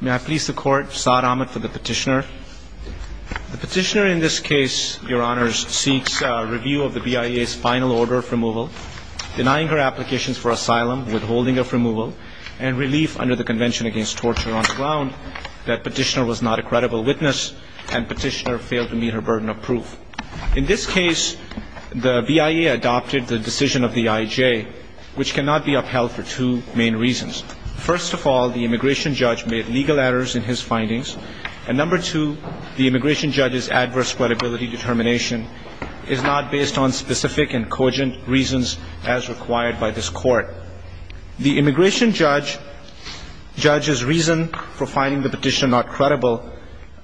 May I please the court, Saad Ahmed for the petitioner. The petitioner in this case, your honors, seeks a review of the BIA's final order of removal, denying her applications for asylum, withholding of removal, and relief under the Convention Against Torture on the ground that petitioner was not a credible witness and petitioner failed to meet her burden of proof. In this case, the BIA adopted the decision of the IJ, which cannot be upheld for two main reasons. First of all, the immigration judge made legal errors in his findings. And number two, the immigration judge's adverse credibility determination is not based on specific and cogent reasons as required by this court. The immigration judge, judge's reason for finding the petitioner not credible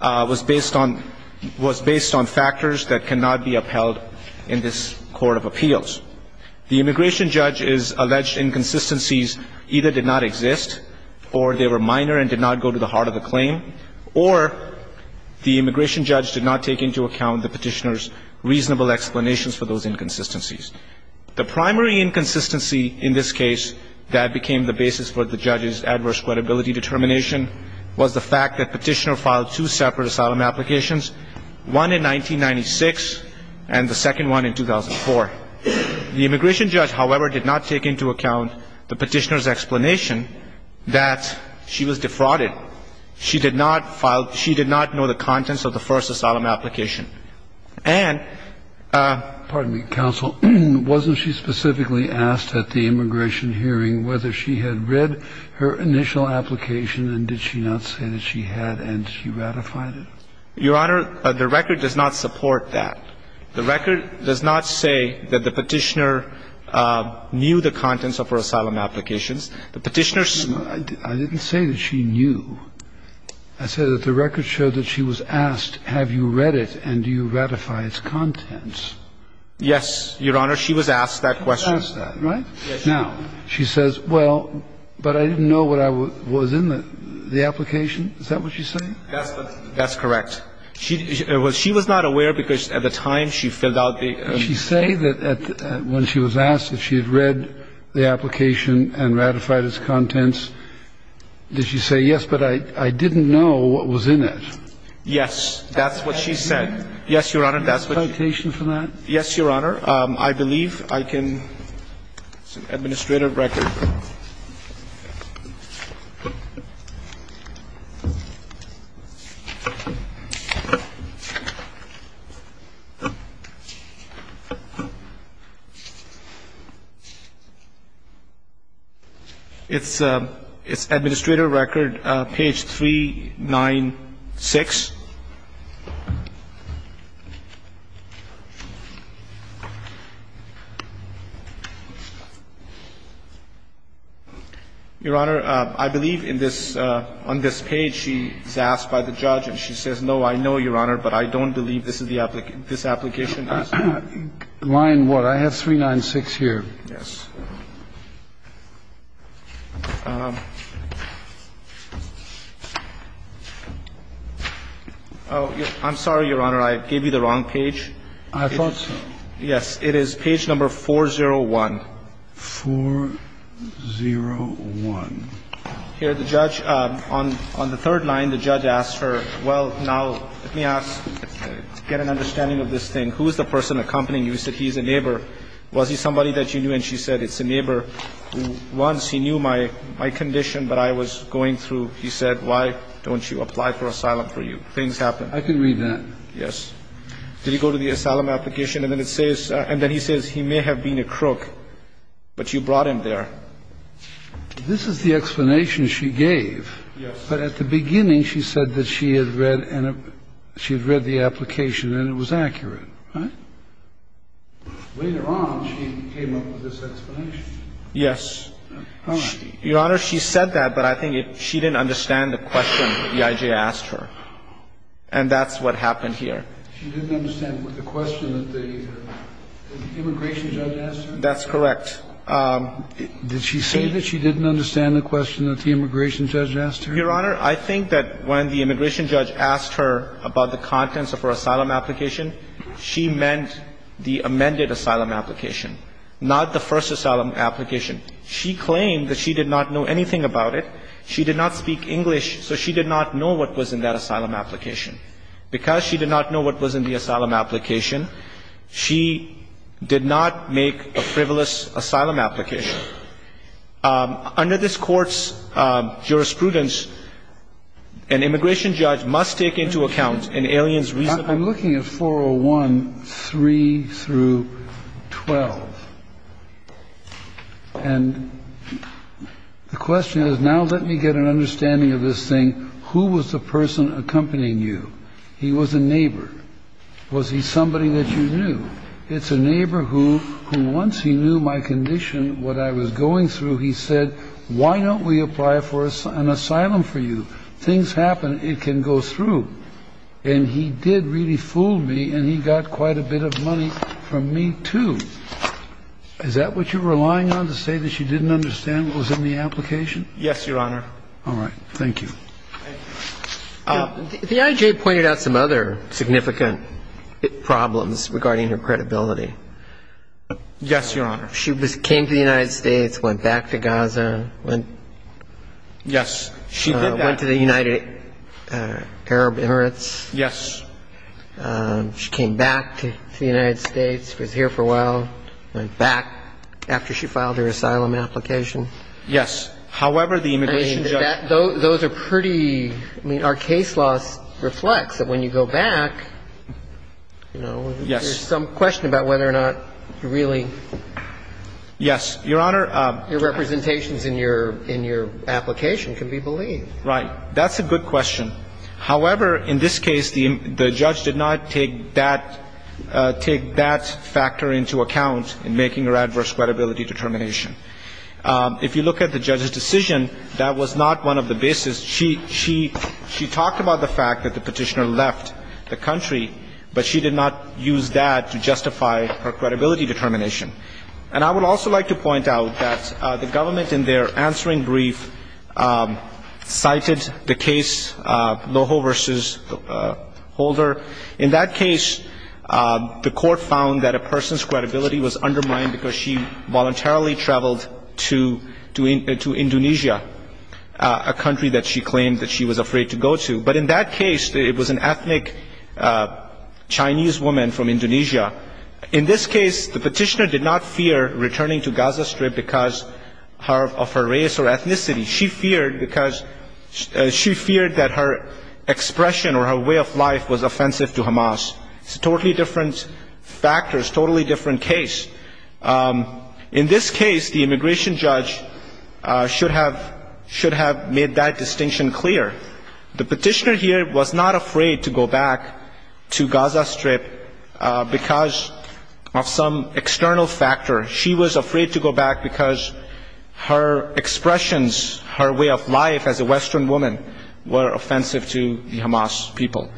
was based on, was based on factors that cannot be upheld in this court of appeals. The immigration judge's alleged inconsistencies either did not exist, or they were minor and did not go to the heart of the claim, or the immigration judge did not take into account the petitioner's reasonable explanations for those inconsistencies. The primary inconsistency in this case that became the basis for the judge's adverse credibility determination was the fact that petitioner filed two separate asylum applications, one in 1996 and the second one in 2004. The immigration judge, however, did not take into account the petitioner's explanation that she was defrauded. She did not file – she did not know the contents of the first asylum application. And – Kennedy. Pardon me, counsel. Wasn't she specifically asked at the immigration hearing whether she had read her initial application, and did she not say that she had, and she ratified it? Your Honor, the record does not support that. The record does not say that the petitioner knew the contents of her asylum applications. The petitioner's – I didn't say that she knew. I said that the record showed that she was asked, have you read it, and do you ratify its contents? Yes, Your Honor. She was asked that question. She was asked that, right? Yes. Now, she says, well, but I didn't know what I was in the application. Is that what she's saying? That's correct. She was not aware, because at the time she filled out the – Did she say that when she was asked if she had read the application and ratified its contents, did she say, yes, but I didn't know what was in it? Yes. That's what she said. Yes, Your Honor, that's what she – Do you have a citation for that? Yes, Your Honor. I believe I can – it's an administrative record. It's – it's administrative record, page 396. Your Honor, I believe in this – on this page, she is asked by the judge, and she says, no, I know, Your Honor, but I don't believe this is the – this application is – Line what? I have 396 here. Yes. Oh, I'm sorry, Your Honor. I gave you the wrong page. I thought – Yes. It is page number 401. 401. Here, the judge – on the third line, the judge asked her, well, now, let me ask to get an understanding of this thing. Who is the person accompanying you? He said he's a neighbor. Was he somebody that you knew? And she said, it's a neighbor. Once he knew my condition, but I was going through, he said, why don't you apply for asylum for you? Things happen. I can read that. Yes. Did he go to the asylum application? And then it says – and then he says he may have been a crook, but you brought him there. This is the explanation she gave. Yes. But at the beginning, she said that she had read – she had read the application and it was accurate. Huh? Later on, she came up with this explanation. Yes. All right. Your Honor, she said that, but I think she didn't understand the question the I.J. asked her. And that's what happened here. She didn't understand the question that the immigration judge asked her? That's correct. Did she say that she didn't understand the question that the immigration judge asked her? Your Honor, I think that when the immigration judge asked her about the contents of her asylum application, she meant the amended asylum application, not the first asylum application. She claimed that she did not know anything about it. She did not speak English, so she did not know what was in that asylum application. Because she did not know what was in the asylum application, she did not make a frivolous asylum application. Under this Court's jurisprudence, an immigration judge must take into account an alien's reasonable – I'm looking at 401, 3 through 12. And the question is, now let me get an understanding of this thing. I'm going to ask you to tell me who was the person accompanying you. He was a neighbor. Was he somebody that you knew? It's a neighbor who, once he knew my condition, what I was going through, he said, why don't we apply for an asylum for you? Things happen. It can go through. And he did really fool me, and he got quite a bit of money from me, too. Is that what you're relying on, to say that she didn't understand what was in the application? Yes, Your Honor. All right. Thank you. The IJ pointed out some other significant problems regarding her credibility. Yes, Your Honor. She came to the United States, went back to Gaza. Yes, she did that. Went to the United Arab Emirates. Yes. She came back to the United States, was here for a while. Went back after she filed her asylum application. Yes. However, the immigration judge ---- I mean, those are pretty ---- I mean, our case law reflects that when you go back, you know, there's some question about whether or not you really ---- Yes. Your Honor ---- Your representations in your application can be believed. Right. That's a good question. However, in this case, the judge did not take that factor into account in making her adverse credibility determination. If you look at the judge's decision, that was not one of the basis. She talked about the fact that the petitioner left the country, but she did not use that to justify her credibility determination. And I would also like to point out that the government in their answering brief cited the case Loho v. Holder. In that case, the court found that a person's credibility was undermined because she voluntarily traveled to Indonesia, a country that she claimed that she was afraid to go to. But in that case, it was an ethnic Chinese woman from Indonesia. In this case, the petitioner did not fear returning to Gaza Strip because of her race or ethnicity. She feared because she feared that her expression or her way of life was offensive to Hamas. It's a totally different factor. It's a totally different case. In this case, the immigration judge should have made that distinction clear. The petitioner here was not afraid to go back to Gaza Strip because of some external factor. She was afraid to go back because her expressions, her way of life as a Western woman, were offensive to the Hamas people.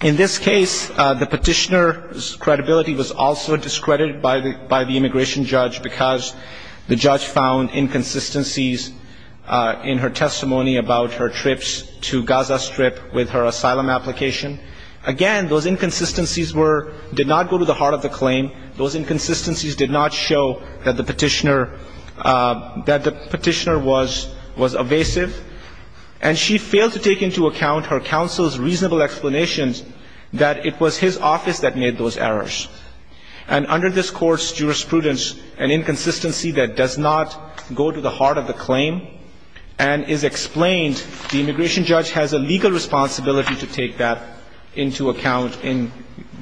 In this case, the petitioner's credibility was also discredited by the immigration judge because the judge found inconsistencies in her testimony about her trips to Gaza Strip with her asylum application. Again, those inconsistencies did not go to the heart of the claim. Those inconsistencies did not show that the petitioner was evasive. And she failed to take into account her counsel's reasonable explanations that it was his office that made those errors. And under this Court's jurisprudence, an inconsistency that does not go to the heart of the claim and is explained, the immigration judge has a legal responsibility to take that into account in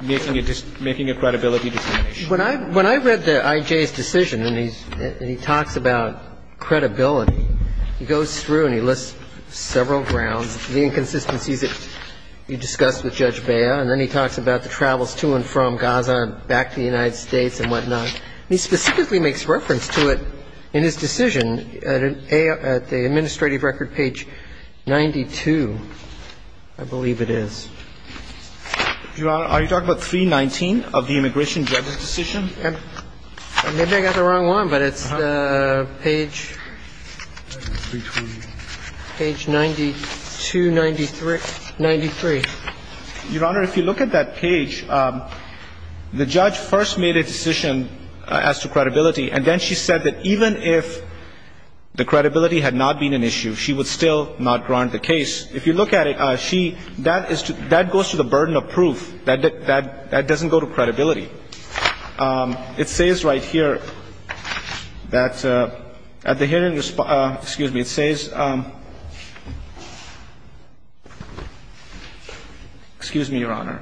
making a credibility determination. When I read the I.J.'s decision and he talks about credibility, he goes through and he lists several grounds, the inconsistencies that you discussed with Judge Bea, and then he talks about the travels to and from Gaza and back to the United States and whatnot. He specifically makes reference to it in his decision at the administrative record page 92, I believe it is. Your Honor, are you talking about 319 of the immigration judge's decision? Maybe I got the wrong one, but it's the page 92, 93. Your Honor, if you look at that page, the judge first made a decision as to credibility, and then she said that even if the credibility had not been an issue, she would still not grant the case. If you look at it, that goes to the burden of proof. That doesn't go to credibility. It says right here that at the hearing, excuse me, it says, excuse me, Your Honor.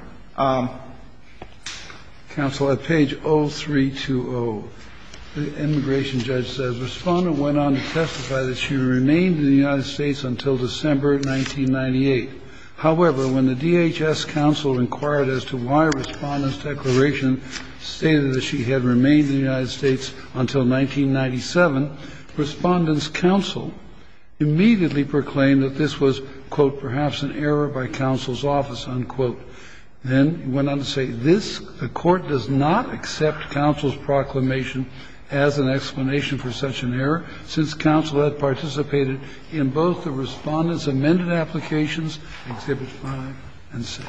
Counsel, at page 0320, the immigration judge says, Respondent went on to testify that she remained in the United States until December 1998. However, when the DHS counsel inquired as to why Respondent's declaration stated that she had remained in the United States until 1997, Respondent's counsel immediately proclaimed that this was, quote, perhaps an error by counsel's office, unquote. Then went on to say, this court does not accept counsel's proclamation as an explanation for such an error, since counsel had participated in both the Respondent's amended applications, Exhibit 5 and 6.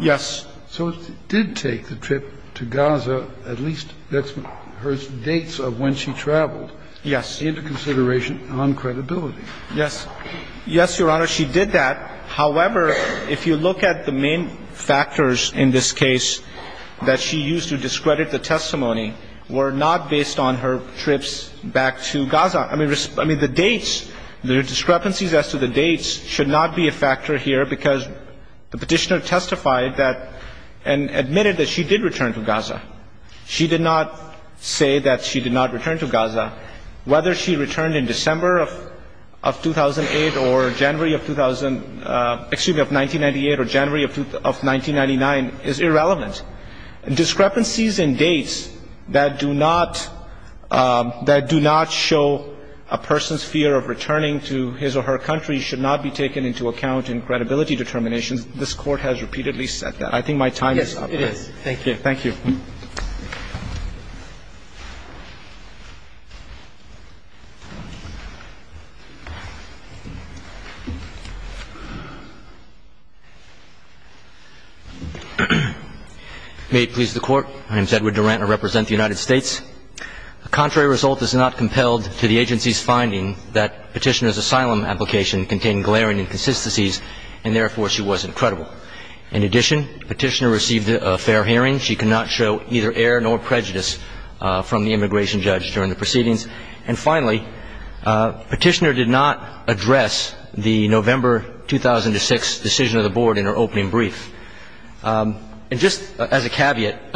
Yes. So it did take the trip to Gaza, at least that's her dates of when she traveled. Yes. Into consideration on credibility. Yes. Yes, Your Honor, she did that. However, if you look at the main factors in this case that she used to discredit the testimony, were not based on her trips back to Gaza. I mean, the dates, the discrepancies as to the dates should not be a factor here, because the Petitioner testified that, and admitted that she did return to Gaza. She did not say that she did not return to Gaza. Whether she returned in December of 2008 or January of 2000, excuse me, of 1998 or January of 1999 is irrelevant. Discrepancies in dates that do not, that do not show a person's fear of returning to his or her country should not be taken into account in credibility determinations. This Court has repeatedly said that. I think my time is up. Yes, it is. Thank you. Thank you. May it please the Court. My name is Edward Durant. I represent the United States. A contrary result is not compelled to the agency's finding that Petitioner's asylum application contained glaring inconsistencies and, therefore, she wasn't credible. In addition, Petitioner received a fair hearing. She cannot show either error nor prejudice from the immigration judge during the proceedings. And finally, Petitioner did not address the November 2006 decision of the Board in her opening brief. And just as a caveat,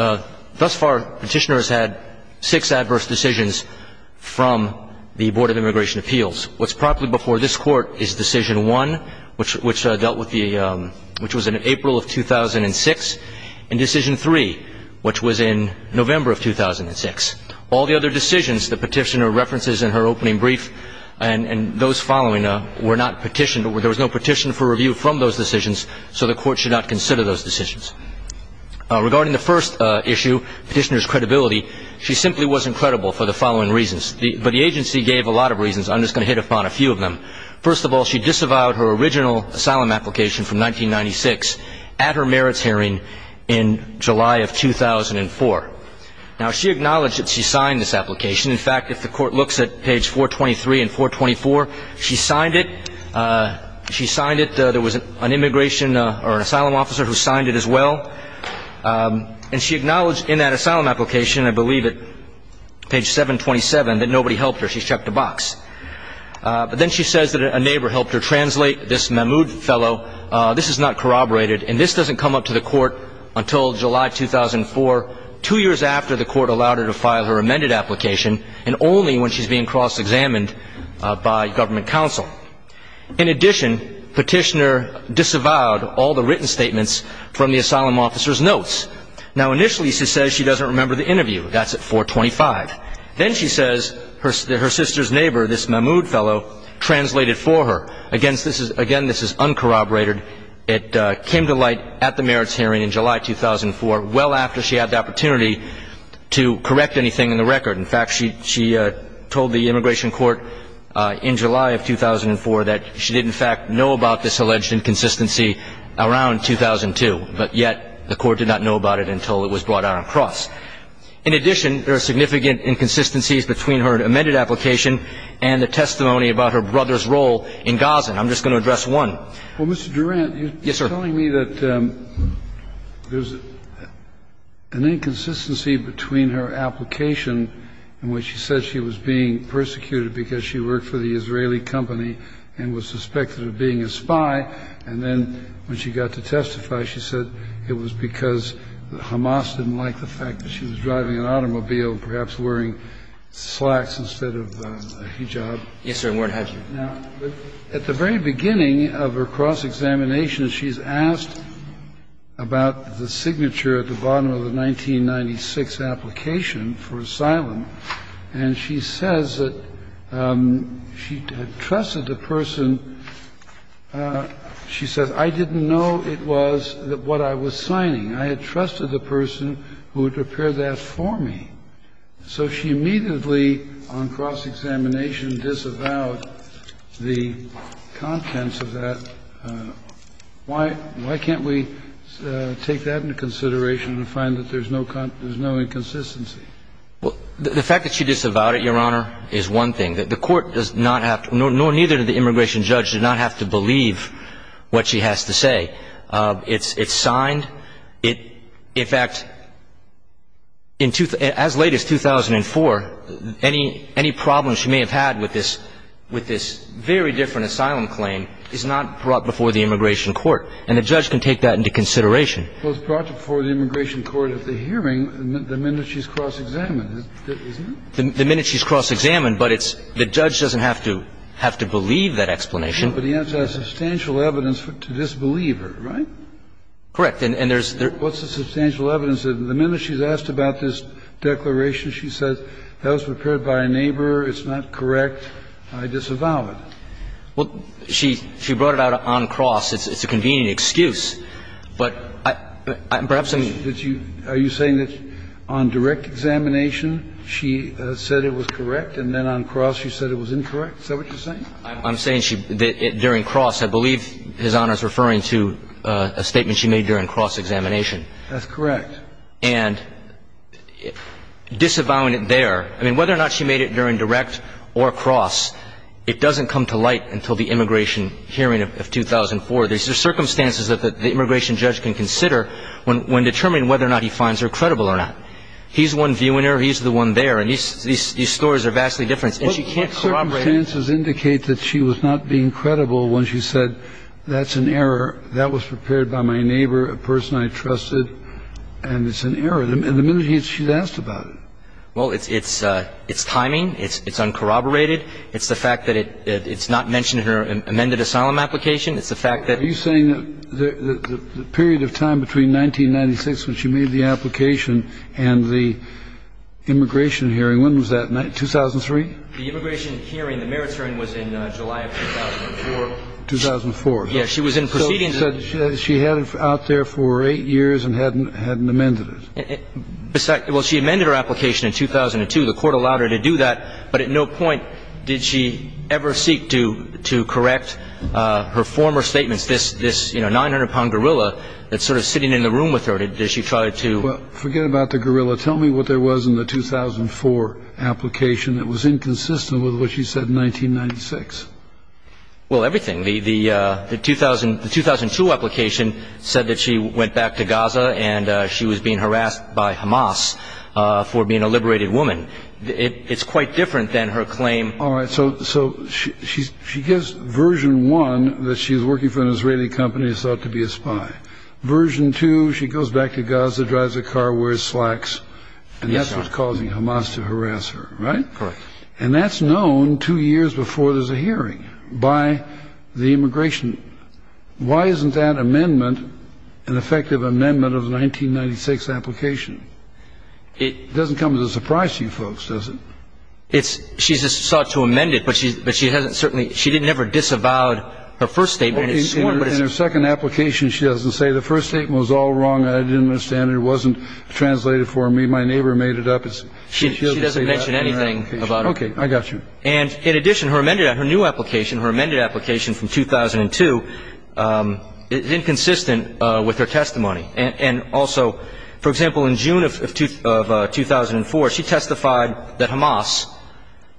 thus far Petitioner has had six adverse decisions from the Board of Immigration Appeals. What's properly before this Court is decision one, which dealt with the, which was in April of 2006. And decision three, which was in November of 2006. All the other decisions that Petitioner references in her opening brief and those following were not petitioned. There was no petition for review from those decisions, so the Court should not consider those decisions. Regarding the first issue, Petitioner's credibility, she simply wasn't credible for the following reasons. But the agency gave a lot of reasons. I'm just going to hit upon a few of them. First of all, she disavowed her original asylum application from 1996 at her merits hearing in July of 2004. Now, she acknowledged that she signed this application. In fact, if the Court looks at page 423 and 424, she signed it. She signed it. There was an immigration or an asylum officer who signed it as well. And she acknowledged in that asylum application, I believe at page 727, that nobody helped her. She shucked the box. But then she says that a neighbor helped her translate, this Mahmoud fellow. This is not corroborated, and this doesn't come up to the Court until July 2004, two years after the Court allowed her to file her amended application, and only when she's being cross-examined by government counsel. In addition, Petitioner disavowed all the written statements from the asylum officer's notes. Now, initially she says she doesn't remember the interview. That's at 425. Then she says that her sister's neighbor, this Mahmoud fellow, translated for her. Again, this is uncorroborated. It came to light at the merits hearing in July 2004, well after she had the opportunity to correct anything in the record. In fact, she told the immigration court in July of 2004 that she didn't, in fact, know about this alleged inconsistency around 2002, but yet the Court did not know about it until it was brought out on the cross. In addition, there are significant inconsistencies between her amended application and the testimony about her brother's role in Gazan. I'm just going to address one. Well, Mr. Durant, you're telling me that there's an inconsistency between her application in which she said she was being persecuted because she worked for the Israeli company and was suspected of being a spy, and then when she got to testify, she said it was because Hamas didn't like the fact that she was driving an automobile and perhaps wearing slacks instead of a hijab. Yes, sir. It weren't her. Now, at the very beginning of her cross-examination, she's asked about the signature at the bottom of the 1996 application for asylum, and she says that she had trusted the person. She says, I didn't know it was what I was signing. I had trusted the person who had prepared that for me. So she immediately, on cross-examination, disavowed the contents of that. Why can't we take that into consideration and find that there's no inconsistency? Well, the fact that she disavowed it, Your Honor, is one thing. The court does not have to, nor neither did the immigration judge, did not have to believe what she has to say. It's signed. In fact, as late as 2004, any problems she may have had with this very different asylum claim is not brought before the immigration court, and the judge can take that into consideration. Well, it's brought before the immigration court at the hearing the minute she's cross-examined, isn't it? The minute she's cross-examined, but it's the judge doesn't have to believe that explanation. But the answer has substantial evidence to disbelieve her, right? Correct. And there's there's What's the substantial evidence? The minute she's asked about this declaration, she says that was prepared by a neighbor. It's not correct. I disavow it. Well, she brought it out on cross. It's a convenient excuse. But perhaps I'm Are you saying that on direct examination she said it was correct, and then on cross she said it was incorrect? Is that what you're saying? I'm saying she, during cross, I believe His Honor is referring to a statement she made during cross-examination. That's correct. And disavowing it there, I mean, whether or not she made it during direct or cross, it doesn't come to light until the immigration hearing of 2004. There's circumstances that the immigration judge can consider when determining whether or not he finds her credible or not. He's the one viewing her. He's the one there. And these stories are vastly different. And she can't corroborate it. But circumstances indicate that she was not being credible when she said that's an error, that was prepared by my neighbor, a person I trusted, and it's an error. And the minute she's asked about it. Well, it's timing. It's uncorroborated. It's the fact that it's not mentioned in her amended asylum application. It's the fact that. Are you saying that the period of time between 1996 when she made the application and the immigration hearing, when was that? 2003? The immigration hearing, the merits hearing, was in July of 2004. 2004. Yes. She was in proceedings. So she had it out there for eight years and hadn't amended it. Well, she amended her application in 2002. The Court allowed her to do that. But at no point did she ever seek to correct her former statements, this 900-pound gorilla that's sort of sitting in the room with her. Did she try to? Forget about the gorilla. Tell me what there was in the 2004 application that was inconsistent with what she said in 1996. Well, everything. The 2002 application said that she went back to Gaza and she was being harassed by Hamas for being a liberated woman. It's quite different than her claim. All right. So she gives version one that she's working for an Israeli company and is thought to be a spy. Version two, she goes back to Gaza, drives a car, wears slacks, and that's what's causing Hamas to harass her. Right? Correct. And that's known two years before there's a hearing by the immigration. Why isn't that amendment an effective amendment of the 1996 application? It doesn't come as a surprise to you folks, does it? She's sought to amend it, but she hasn't certainly ‑‑ she never disavowed her first statement. In her second application, she doesn't say the first statement was all wrong, I didn't understand it, it wasn't translated for me, my neighbor made it up. She doesn't mention anything about it. Okay. I got you. And in addition, her new application, her amended application from 2002, is inconsistent with her testimony. And also, for example, in June of 2004, she testified that Hamas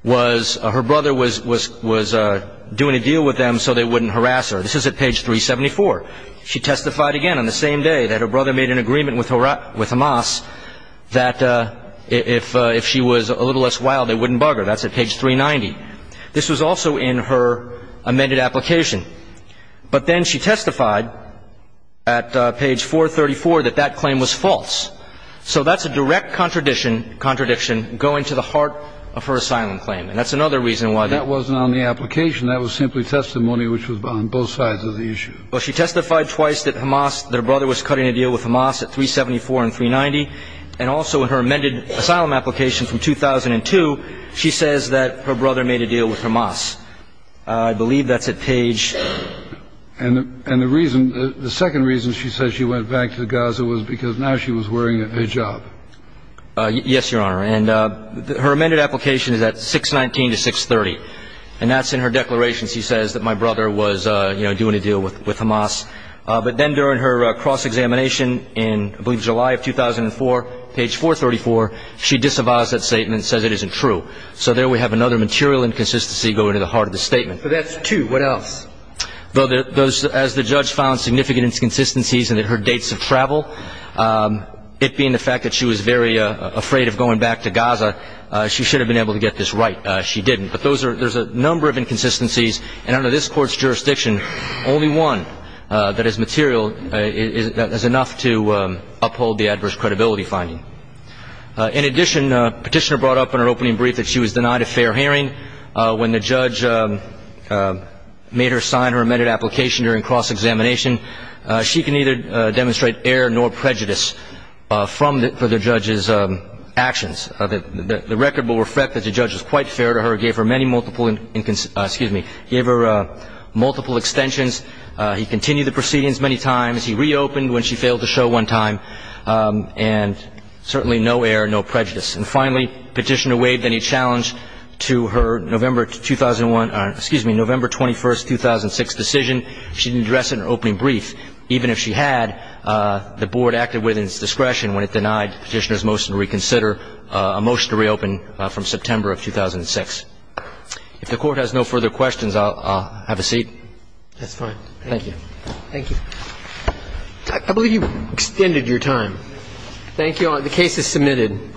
was ‑‑ her brother was doing a deal with them so they wouldn't harass her. This is at page 374. She testified again on the same day that her brother made an agreement with Hamas that if she was a little less wild, they wouldn't bug her. That's at page 390. This was also in her amended application. But then she testified at page 434 that that claim was false. So that's a direct contradiction going to the heart of her asylum claim. And that's another reason why ‑‑ That wasn't on the application. That was simply testimony which was on both sides of the issue. Well, she testified twice that Hamas ‑‑ that her brother was cutting a deal with Hamas at 374 and 390. And also in her amended asylum application from 2002, she says that her brother made a deal with Hamas. I believe that's at page ‑‑ And the reason ‑‑ the second reason she said she went back to Gaza was because now she was wearing a hijab. Yes, Your Honor. And her amended application is at 619 to 630. And that's in her declaration. She says that my brother was, you know, doing a deal with Hamas. But then during her cross‑examination in, I believe, July of 2004, page 434, she disavows that statement and says it isn't true. So there we have another material inconsistency going to the heart of the statement. So that's two. What else? Well, as the judge found significant inconsistencies in her dates of travel, it being the fact that she was very afraid of going back to Gaza, she should have been able to get this right. She didn't. But there's a number of inconsistencies. And under this Court's jurisdiction, only one that is material, that is enough to uphold the adverse credibility finding. In addition, Petitioner brought up in her opening brief that she was denied a fair hearing. When the judge made her sign her amended application during cross‑examination, she can neither demonstrate error nor prejudice for the judge's actions. The record will reflect that the judge was quite fair to her, gave her many multiple ‑‑ excuse me, gave her multiple extensions. He continued the proceedings many times. He reopened when she failed to show one time. And certainly no error, no prejudice. And finally, Petitioner waived any challenge to her November 2001 ‑‑ excuse me, November 21, 2006 decision. She didn't address it in her opening brief, even if she had. The Board acted within its discretion when it denied Petitioner's motion to reconsider a motion to reopen from September of 2006. If the Court has no further questions, I'll have a seat. That's fine. Thank you. Thank you. I believe you've extended your time. Thank you all. The case is submitted.